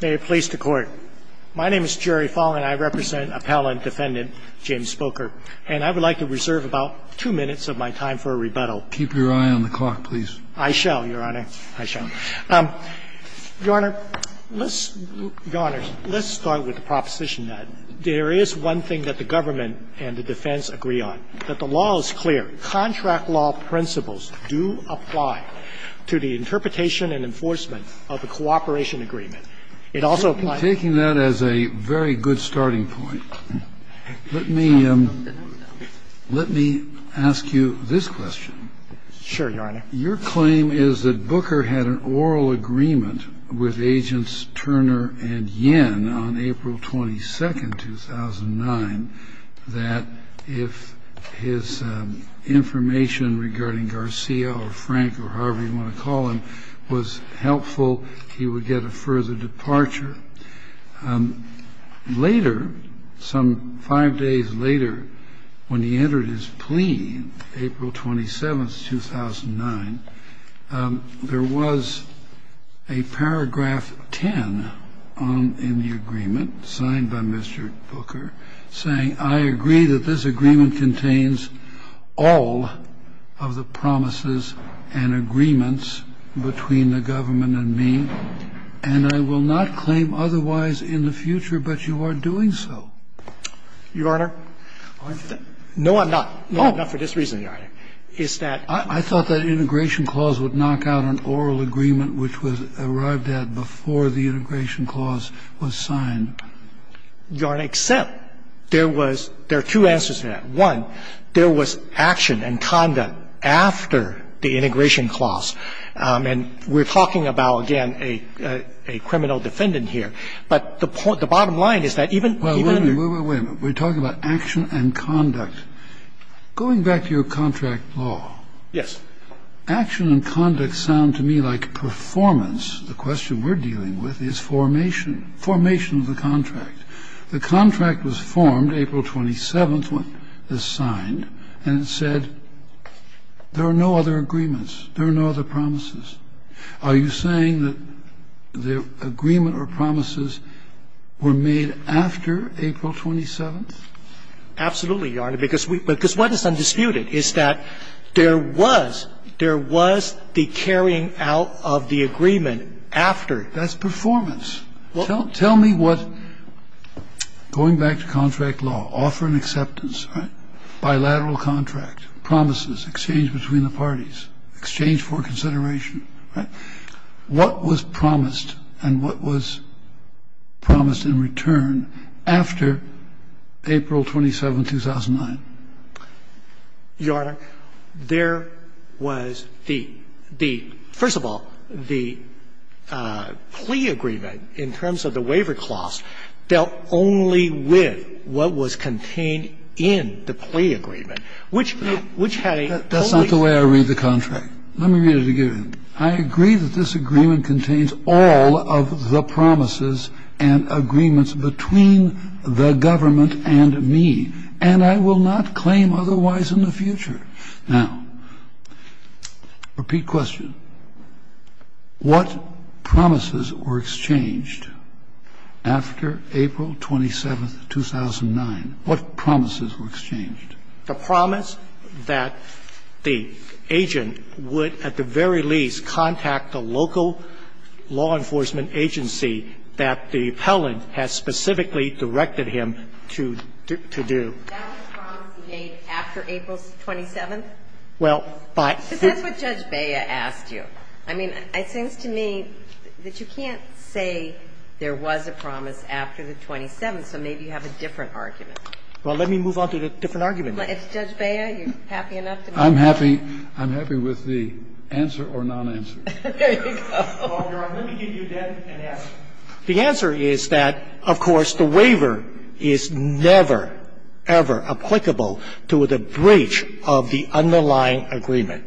May it please the Court. My name is Jerry Fallon. I represent Appellant Defendant James Booker. And I would like to reserve about two minutes of my time for a rebuttal. Keep your eye on the clock, please. I shall, Your Honor. I shall. Your Honor, let's start with the proposition that there is one thing that the government and the defense agree on, that the law is clear. Contract law principles do apply to the interpretation and enforcement of the It also applies Taking that as a very good starting point, let me, let me ask you this question. Sure, Your Honor. Your claim is that Booker had an oral agreement with Agents Turner and Yen on April 22, 2009, that if his information regarding Garcia or Frank or however you want to call it, his departure, later, some five days later, when he entered his plea, April 27, 2009, there was a paragraph 10 in the agreement signed by Mr. Booker saying, I agree that this agreement contains all of the promises and agreements between the two parties. Does that mean that you do not claim otherwise in the future, but you are doing so? Your Honor, no, I'm not, no, I'm not for this reason, Your Honor, is that I thought that integration clause would knock out an oral agreement, which was arrived at before the integration clause was signed. Your Honor, except there was, there are two answers to that. One, there was action and conduct after the integration clause, and we're talking about, again, a criminal defendant here. But the bottom line is that even under the Well, wait a minute, wait a minute. We're talking about action and conduct. Going back to your contract law, action and conduct sound to me like performance. The question we're dealing with is formation, formation of the contract. The contract was formed April 27th, when it was signed, and it said there are no other agreements, there are no other promises. Are you saying that the agreement or promises were made after April 27th? Absolutely, Your Honor, because we, because what is undisputed is that there was, there was the carrying out of the agreement after. That's performance. Tell me what, going back to contract law, offer and acceptance, right, bilateral contract, promises, exchange between the parties, exchange for consideration, right, what was promised and what was promised in return after April 27th, 2009? Your Honor, there was the, the, first of all, the plea agreement, the plea agreement in terms of the waiver clause, dealt only with what was contained in the plea agreement, which had a totally. That's not the way I read the contract. Let me read it again. I agree that this agreement contains all of the promises and agreements between the government and me, and I will not claim otherwise in the future. Now, repeat question. What promises were exchanged after April 27th, 2009? What promises were exchanged? The promise that the agent would at the very least contact the local law enforcement agency that the appellant has specifically directed him to do. That was the promise he made after April 27th? Well, but. Is that what Judge Bea asked you? I mean, it seems to me that you can't say there was a promise after the 27th, so maybe you have a different argument. Well, let me move on to the different argument. Judge Bea, you're happy enough to move on? I'm happy. I'm happy with the answer or non-answer. There you go. Well, Your Honor, let me give you then an answer. The answer is that, of course, the waiver is never, ever applicable to the breach of the underlying agreement.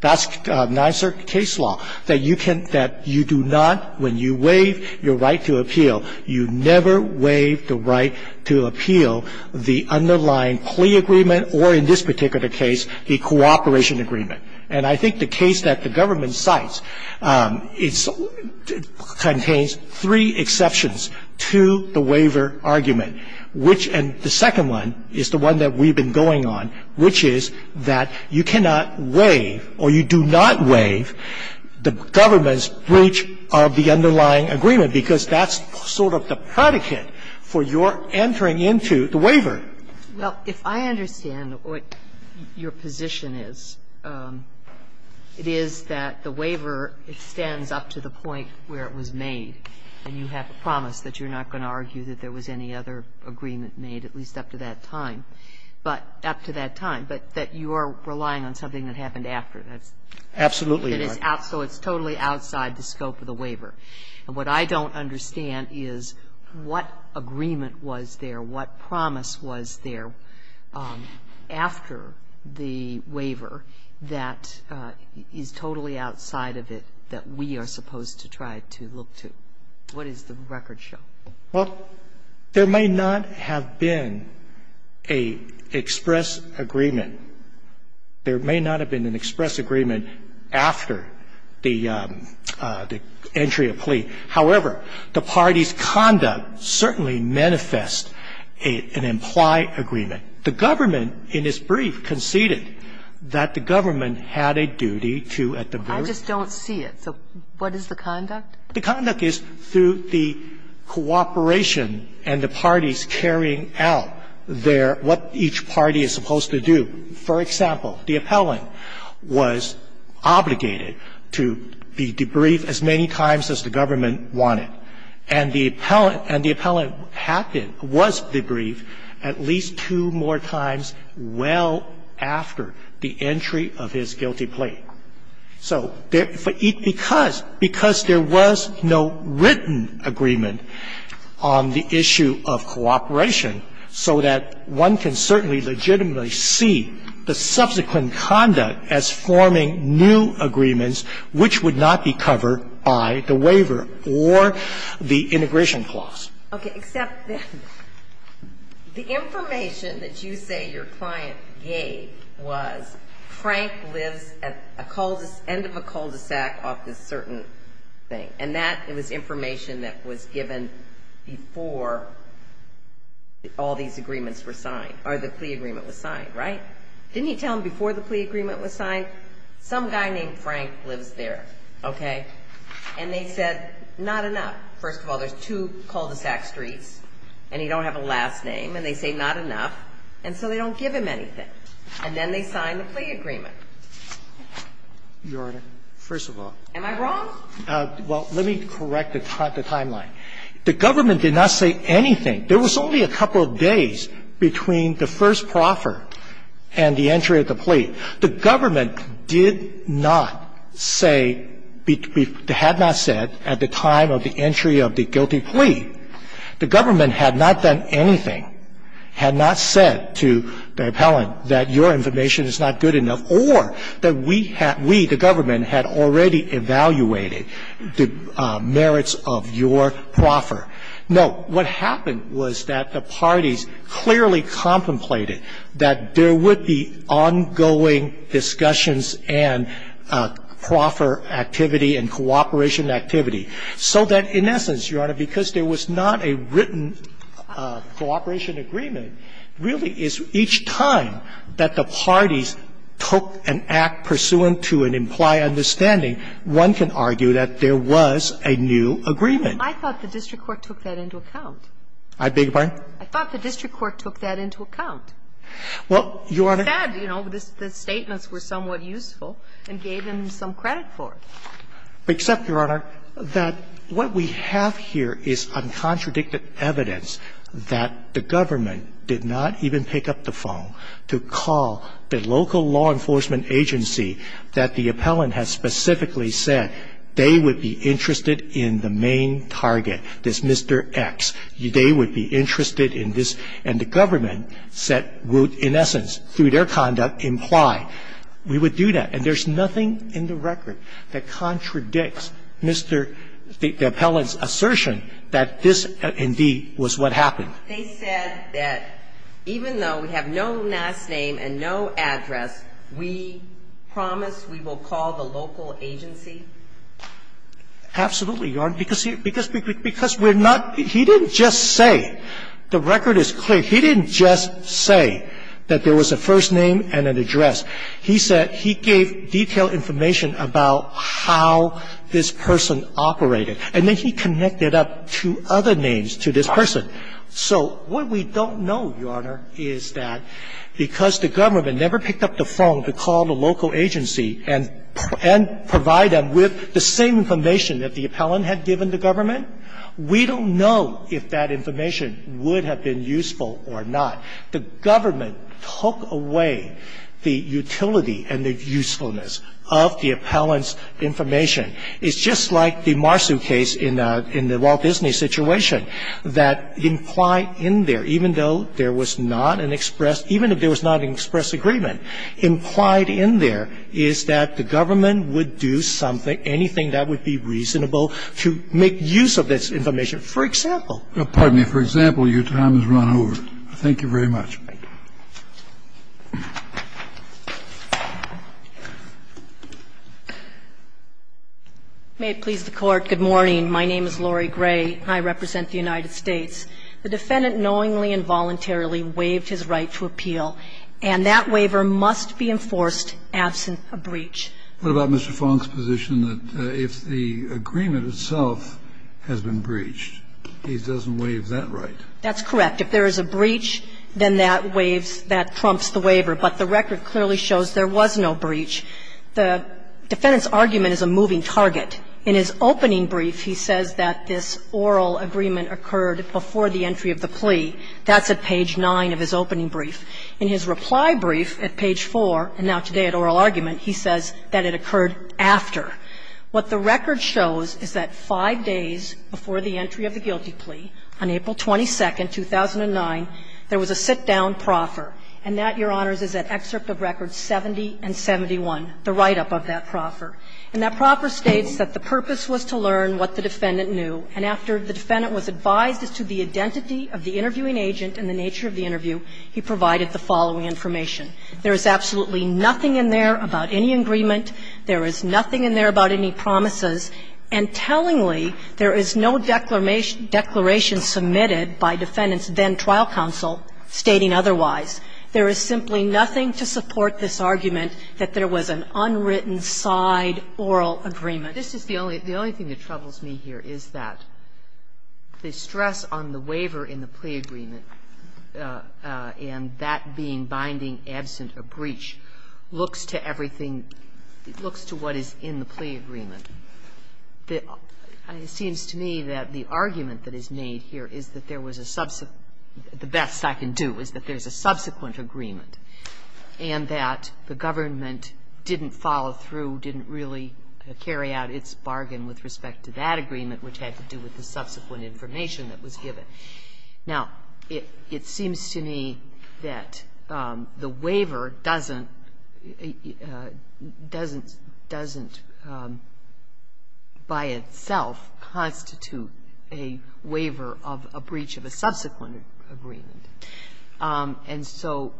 That's NISERC case law, that you can't – that you do not, when you waive your right to appeal, you never waive the right to appeal the underlying plea agreement or, in this particular case, the cooperation agreement. And I think the case that the government cites, it contains three exceptions to the waiver argument, which – and the second one is the one that we've been going on, which is that you cannot waive or you do not waive the government's breach of the underlying agreement, because that's sort of the predicate for your entering into the waiver. Well, if I understand what your position is, it is that the waiver extends up to the point where it was made, and you have promised that you're not going to argue that there was any other agreement made, at least up to that time, but up to that time, but that you are relying on something that happened after. Absolutely, Your Honor. So it's totally outside the scope of the waiver. And what I don't understand is what agreement was there, what promise was there after the waiver that is totally outside of it that we are supposed to try to look to. What does the record show? Well, there may not have been an express agreement. There may not have been an express agreement after the entry of plea. However, the party's conduct certainly manifests an implied agreement. The government in its brief conceded that the government had a duty to at the very end. I just don't see it. So what is the conduct? The conduct is through the cooperation and the parties carrying out their – what each party is supposed to do. For example, the appellant was obligated to be debriefed as many times as the government wanted. And the appellant – and the appellant had to – was debriefed at least two more times well after the entry of his guilty plea. So there – because there was no written agreement on the issue of cooperation and the appellant was obligated to be debriefed at least two more times well after the entry of his guilty plea. So there was no written agreement on the issue of cooperation and the appellant was obligated to be debriefed at least two more times well after the entry of his guilty plea. All these agreements were signed, or the plea agreement was signed, right? Didn't he tell them before the plea agreement was signed, some guy named Frank lives there, okay? And they said, not enough. First of all, there's two cul-de-sac streets and he don't have a last name, and they say not enough, and so they don't give him anything. And then they sign the plea agreement. Your Honor, first of all. Am I wrong? Well, let me correct the timeline. The government did not say anything. There was only a couple of days between the first proffer and the entry of the plea. The government did not say between the – had not said at the time of the entry of the guilty plea. The government had not done anything, had not said to the appellant that your information is not good enough or that we had – we, the government, had already evaluated the merits of your proffer. No. What happened was that the parties clearly contemplated that there would be ongoing discussions and proffer activity and cooperation activity, so that in essence, Your Honor, because there was not a written cooperation agreement, really, is each time that the parties took an act pursuant to an implied understanding, one can argue that there was a new agreement. I thought the district court took that into account. I beg your pardon? I thought the district court took that into account. Well, Your Honor – He said, you know, the statements were somewhat useful and gave him some credit for it. Except, Your Honor, that what we have here is uncontradicted evidence that the government did not even pick up the phone to call the local law enforcement agency that the appellant has specifically said they would be interested in the main target, this Mr. X. They would be interested in this. And the government said – wrote, in essence, through their conduct, implied. We would do that. And there's nothing in the record that contradicts Mr. – the appellant's assertion that this, indeed, was what happened. They said that even though we have no last name and no address, we promise we will call the local agency. Absolutely, Your Honor. Because we're not – he didn't just say – the record is clear. He didn't just say that there was a first name and an address. He said – he gave detailed information about how this person operated. And then he connected up two other names to this person. So what we don't know, Your Honor, is that because the government never picked up the phone to call the local agency and provide them with the same information that the appellant had given the government, we don't know if that information would have been useful or not. The government took away the utility and the usefulness of the appellant's information. It's just like the Marsu case in the Walt Disney situation that implied in there, even though there was not an express – even if there was not an express agreement – implied in there is that the government would do something, anything that would be reasonable to make use of this information, for example. Kennedy, for example, your time has run over. Thank you very much. May it please the Court, good morning. My name is Lori Gray, and I represent the United States. The defendant knowingly and voluntarily waived his right to appeal, and that waiver must be enforced absent a breach. What about Mr. Fong's position that if the agreement itself has been breached, he doesn't waive that right? That's correct. If there is a breach, then that waives – that trumps the waiver. But the record clearly shows there was no breach. The defendant's argument is a moving target. In his opening brief, he says that this oral agreement occurred before the entry of the plea. That's at page 9 of his opening brief. In his reply brief at page 4, and now today at oral argument, he says that it occurred after. What the record shows is that five days before the entry of the guilty plea, on April 22, 2009, there was a sit-down proffer. And that, Your Honors, is at excerpt of records 70 and 71, the write-up of that proffer. And that proffer states that the purpose was to learn what the defendant knew. And after the defendant was advised as to the identity of the interviewing agent and the nature of the interview, he provided the following information. There is absolutely nothing in there about any agreement. There is nothing in there about any promises. And tellingly, there is no declaration submitted by defendant's then-trial counsel stating otherwise. There is simply nothing to support this argument that there was an unwritten side oral agreement. Sotomayor, this is the only thing that troubles me here is that the stress on the waiver in the plea agreement, and that being binding, absent a breach, looks to everything that looks to what is in the plea agreement. It seems to me that the argument that is made here is that there was a the best I can do is that there is a subsequent agreement, and that the government didn't follow through, didn't really carry out its bargain with respect to that agreement, which had to do with the subsequent information that was given. Now, it seems to me that the waiver doesn't by itself constitute a waiver of a breach of a subsequent agreement. And so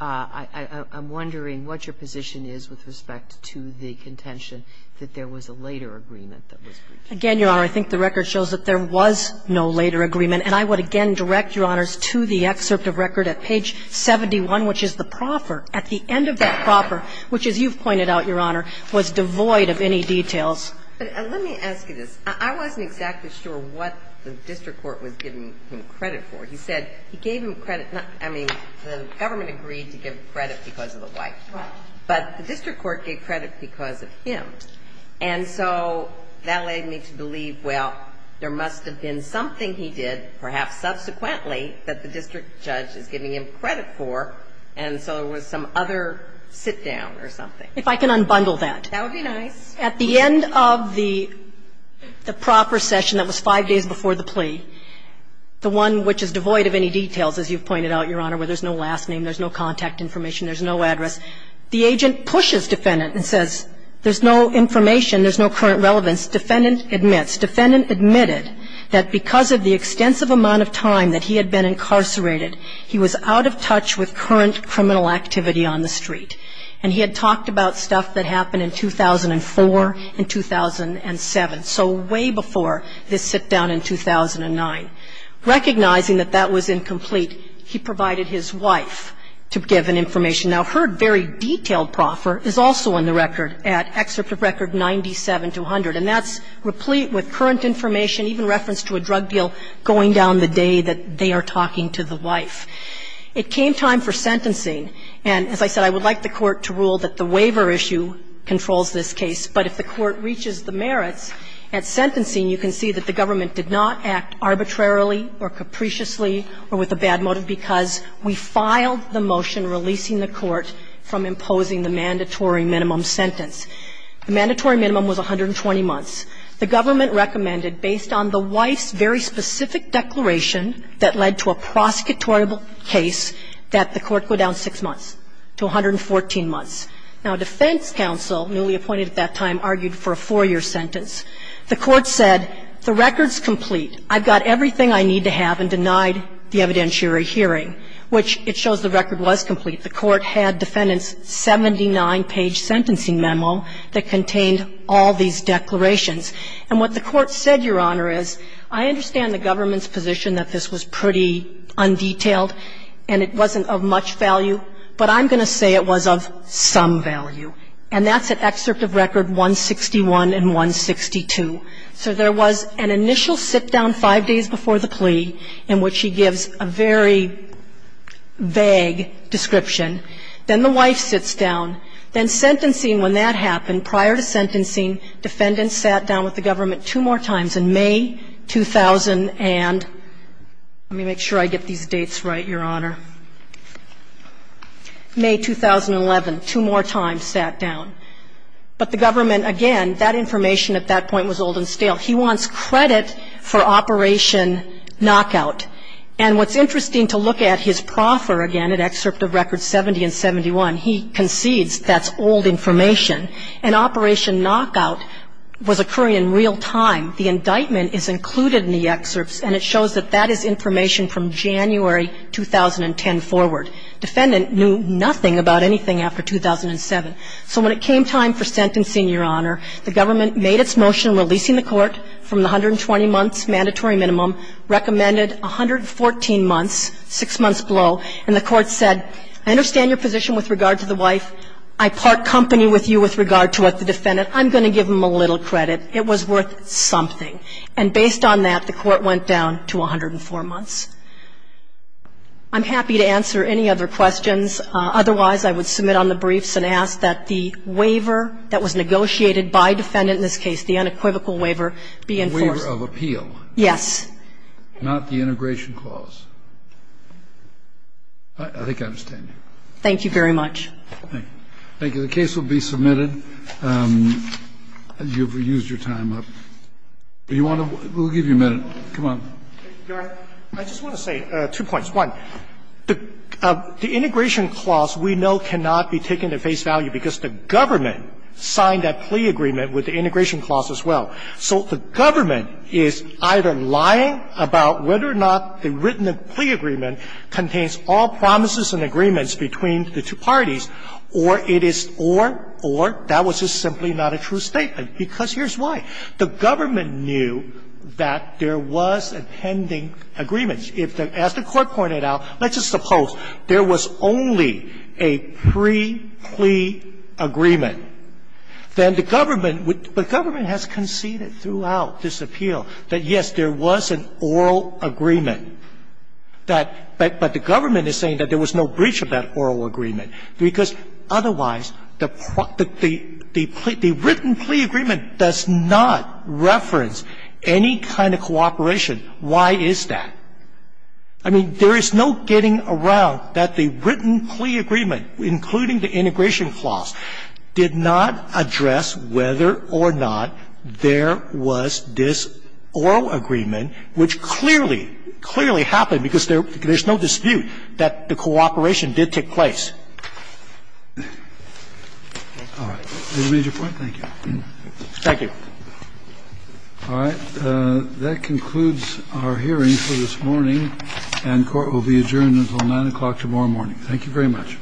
I'm wondering what your position is with respect to the contention that there was a later agreement that was breached. Again, Your Honor, I think the record shows that there was no later agreement. And I would again direct, Your Honors, to the excerpt of record at page 71, which is the proffer. At the end of that proffer, which, as you've pointed out, Your Honor, was devoid of any details. But let me ask you this. I wasn't exactly sure what the district court was giving him credit for. He said he gave him credit. I mean, the government agreed to give credit because of the wife. But the district court gave credit because of him. And so that led me to believe, well, there must have been something he did, perhaps subsequently, that the district judge is giving him credit for, and so there was some other sit-down or something. If I can unbundle that. That would be nice. At the end of the proffer session that was five days before the plea, the one which is devoid of any details, as you've pointed out, Your Honor, where there's no last name, there's no contact information, there's no address, the agent pushes defendant and says there's no information, there's no current relevance. Defendant admits. Defendant admitted that because of the extensive amount of time that he had been incarcerated, he was out of touch with current criminal activity on the street. And he had talked about stuff that happened in 2004 and 2007. So way before this sit-down in 2009. Recognizing that that was incomplete, he provided his wife to give him information. Now, her very detailed proffer is also in the record at Excerpt of Record 97-200. And that's replete with current information, even reference to a drug deal going down the day that they are talking to the wife. It came time for sentencing. And as I said, I would like the Court to rule that the waiver issue controls this case. But if the Court reaches the merits at sentencing, you can see that the government did not act arbitrarily or capriciously or with a bad motive because we filed the motion releasing the Court from imposing the mandatory minimum sentence. The mandatory minimum was 120 months. The government recommended, based on the wife's very specific declaration that led to a prosecutorial case, that the Court go down 6 months to 114 months. Now, defense counsel, newly appointed at that time, argued for a 4-year sentence. The Court said, the record's complete. I've got everything I need to have and denied the evidentiary hearing, which it shows the record was complete. The Court had defendants' 79-page sentencing memo that contained all these declarations. And what the Court said, Your Honor, is I understand the government's position that this was pretty undetailed and it wasn't of much value, but I'm going to say it was of some value. And that's at excerpt of record 161 and 162. So there was an initial sit-down 5 days before the plea in which he gives a very vague description. Then the wife sits down. Then sentencing, when that happened, prior to sentencing, defendants sat down with the government two more times in May 2000 and let me make sure I get these dates right, Your Honor. May 2011, two more times sat down. But the government, again, that information at that point was old and stale. He wants credit for Operation Knockout. And what's interesting to look at, his proffer, again, at excerpt of record 70 and 71, he concedes that's old information. And Operation Knockout was occurring in real time. The indictment is included in the excerpts, and it shows that that is information from January 2010 forward. Defendant knew nothing about anything after 2007. So when it came time for sentencing, Your Honor, the government made its motion releasing the court from the 120-months mandatory minimum, recommended 114 months, six months below, and the court said, I understand your position with regard to the wife. I part company with you with regard to what the defendant, I'm going to give him a little credit. It was worth something. And based on that, the court went down to 104 months. I'm happy to answer any other questions. Otherwise, I would submit on the briefs and ask that the waiver that was negotiated Kennedy. I would ask that the waiver be a plea agreement with the integration clause, not the integration clause. I think I understand you. Thank you very much. Thank you. The case will be submitted. You have used your time up. You want to ñ we'll give you a minute. Come on. Your Honor, I just want to say two points. One, the integration clause we know cannot be taken at face value because the government signed that plea agreement with the integration clause as well. So the government is either lying about whether or not the written plea agreement contains all promises and agreements between the two parties, or it is ñ or that was just simply not a true statement, because here's why. The government knew that there was a pending agreement. If the ñ as the Court pointed out, let's just suppose there was only a pre-plea agreement, then the government would ñ the government has conceded throughout this appeal that, yes, there was an oral agreement, that ñ but the government is saying that there was no breach of that oral agreement, because otherwise the ñ the written plea agreement does not reference any kind of cooperation. Why is that? I mean, there is no getting around that the written plea agreement, including the integration clause, did not address whether or not there was this oral agreement which clearly, clearly happened because there ñ there's no dispute that the cooperation did take place. All right. We've made your point? Thank you. Thank you. All right. That concludes our hearing for this morning, and court will be adjourned until 9 o'clock tomorrow morning. Thank you very much.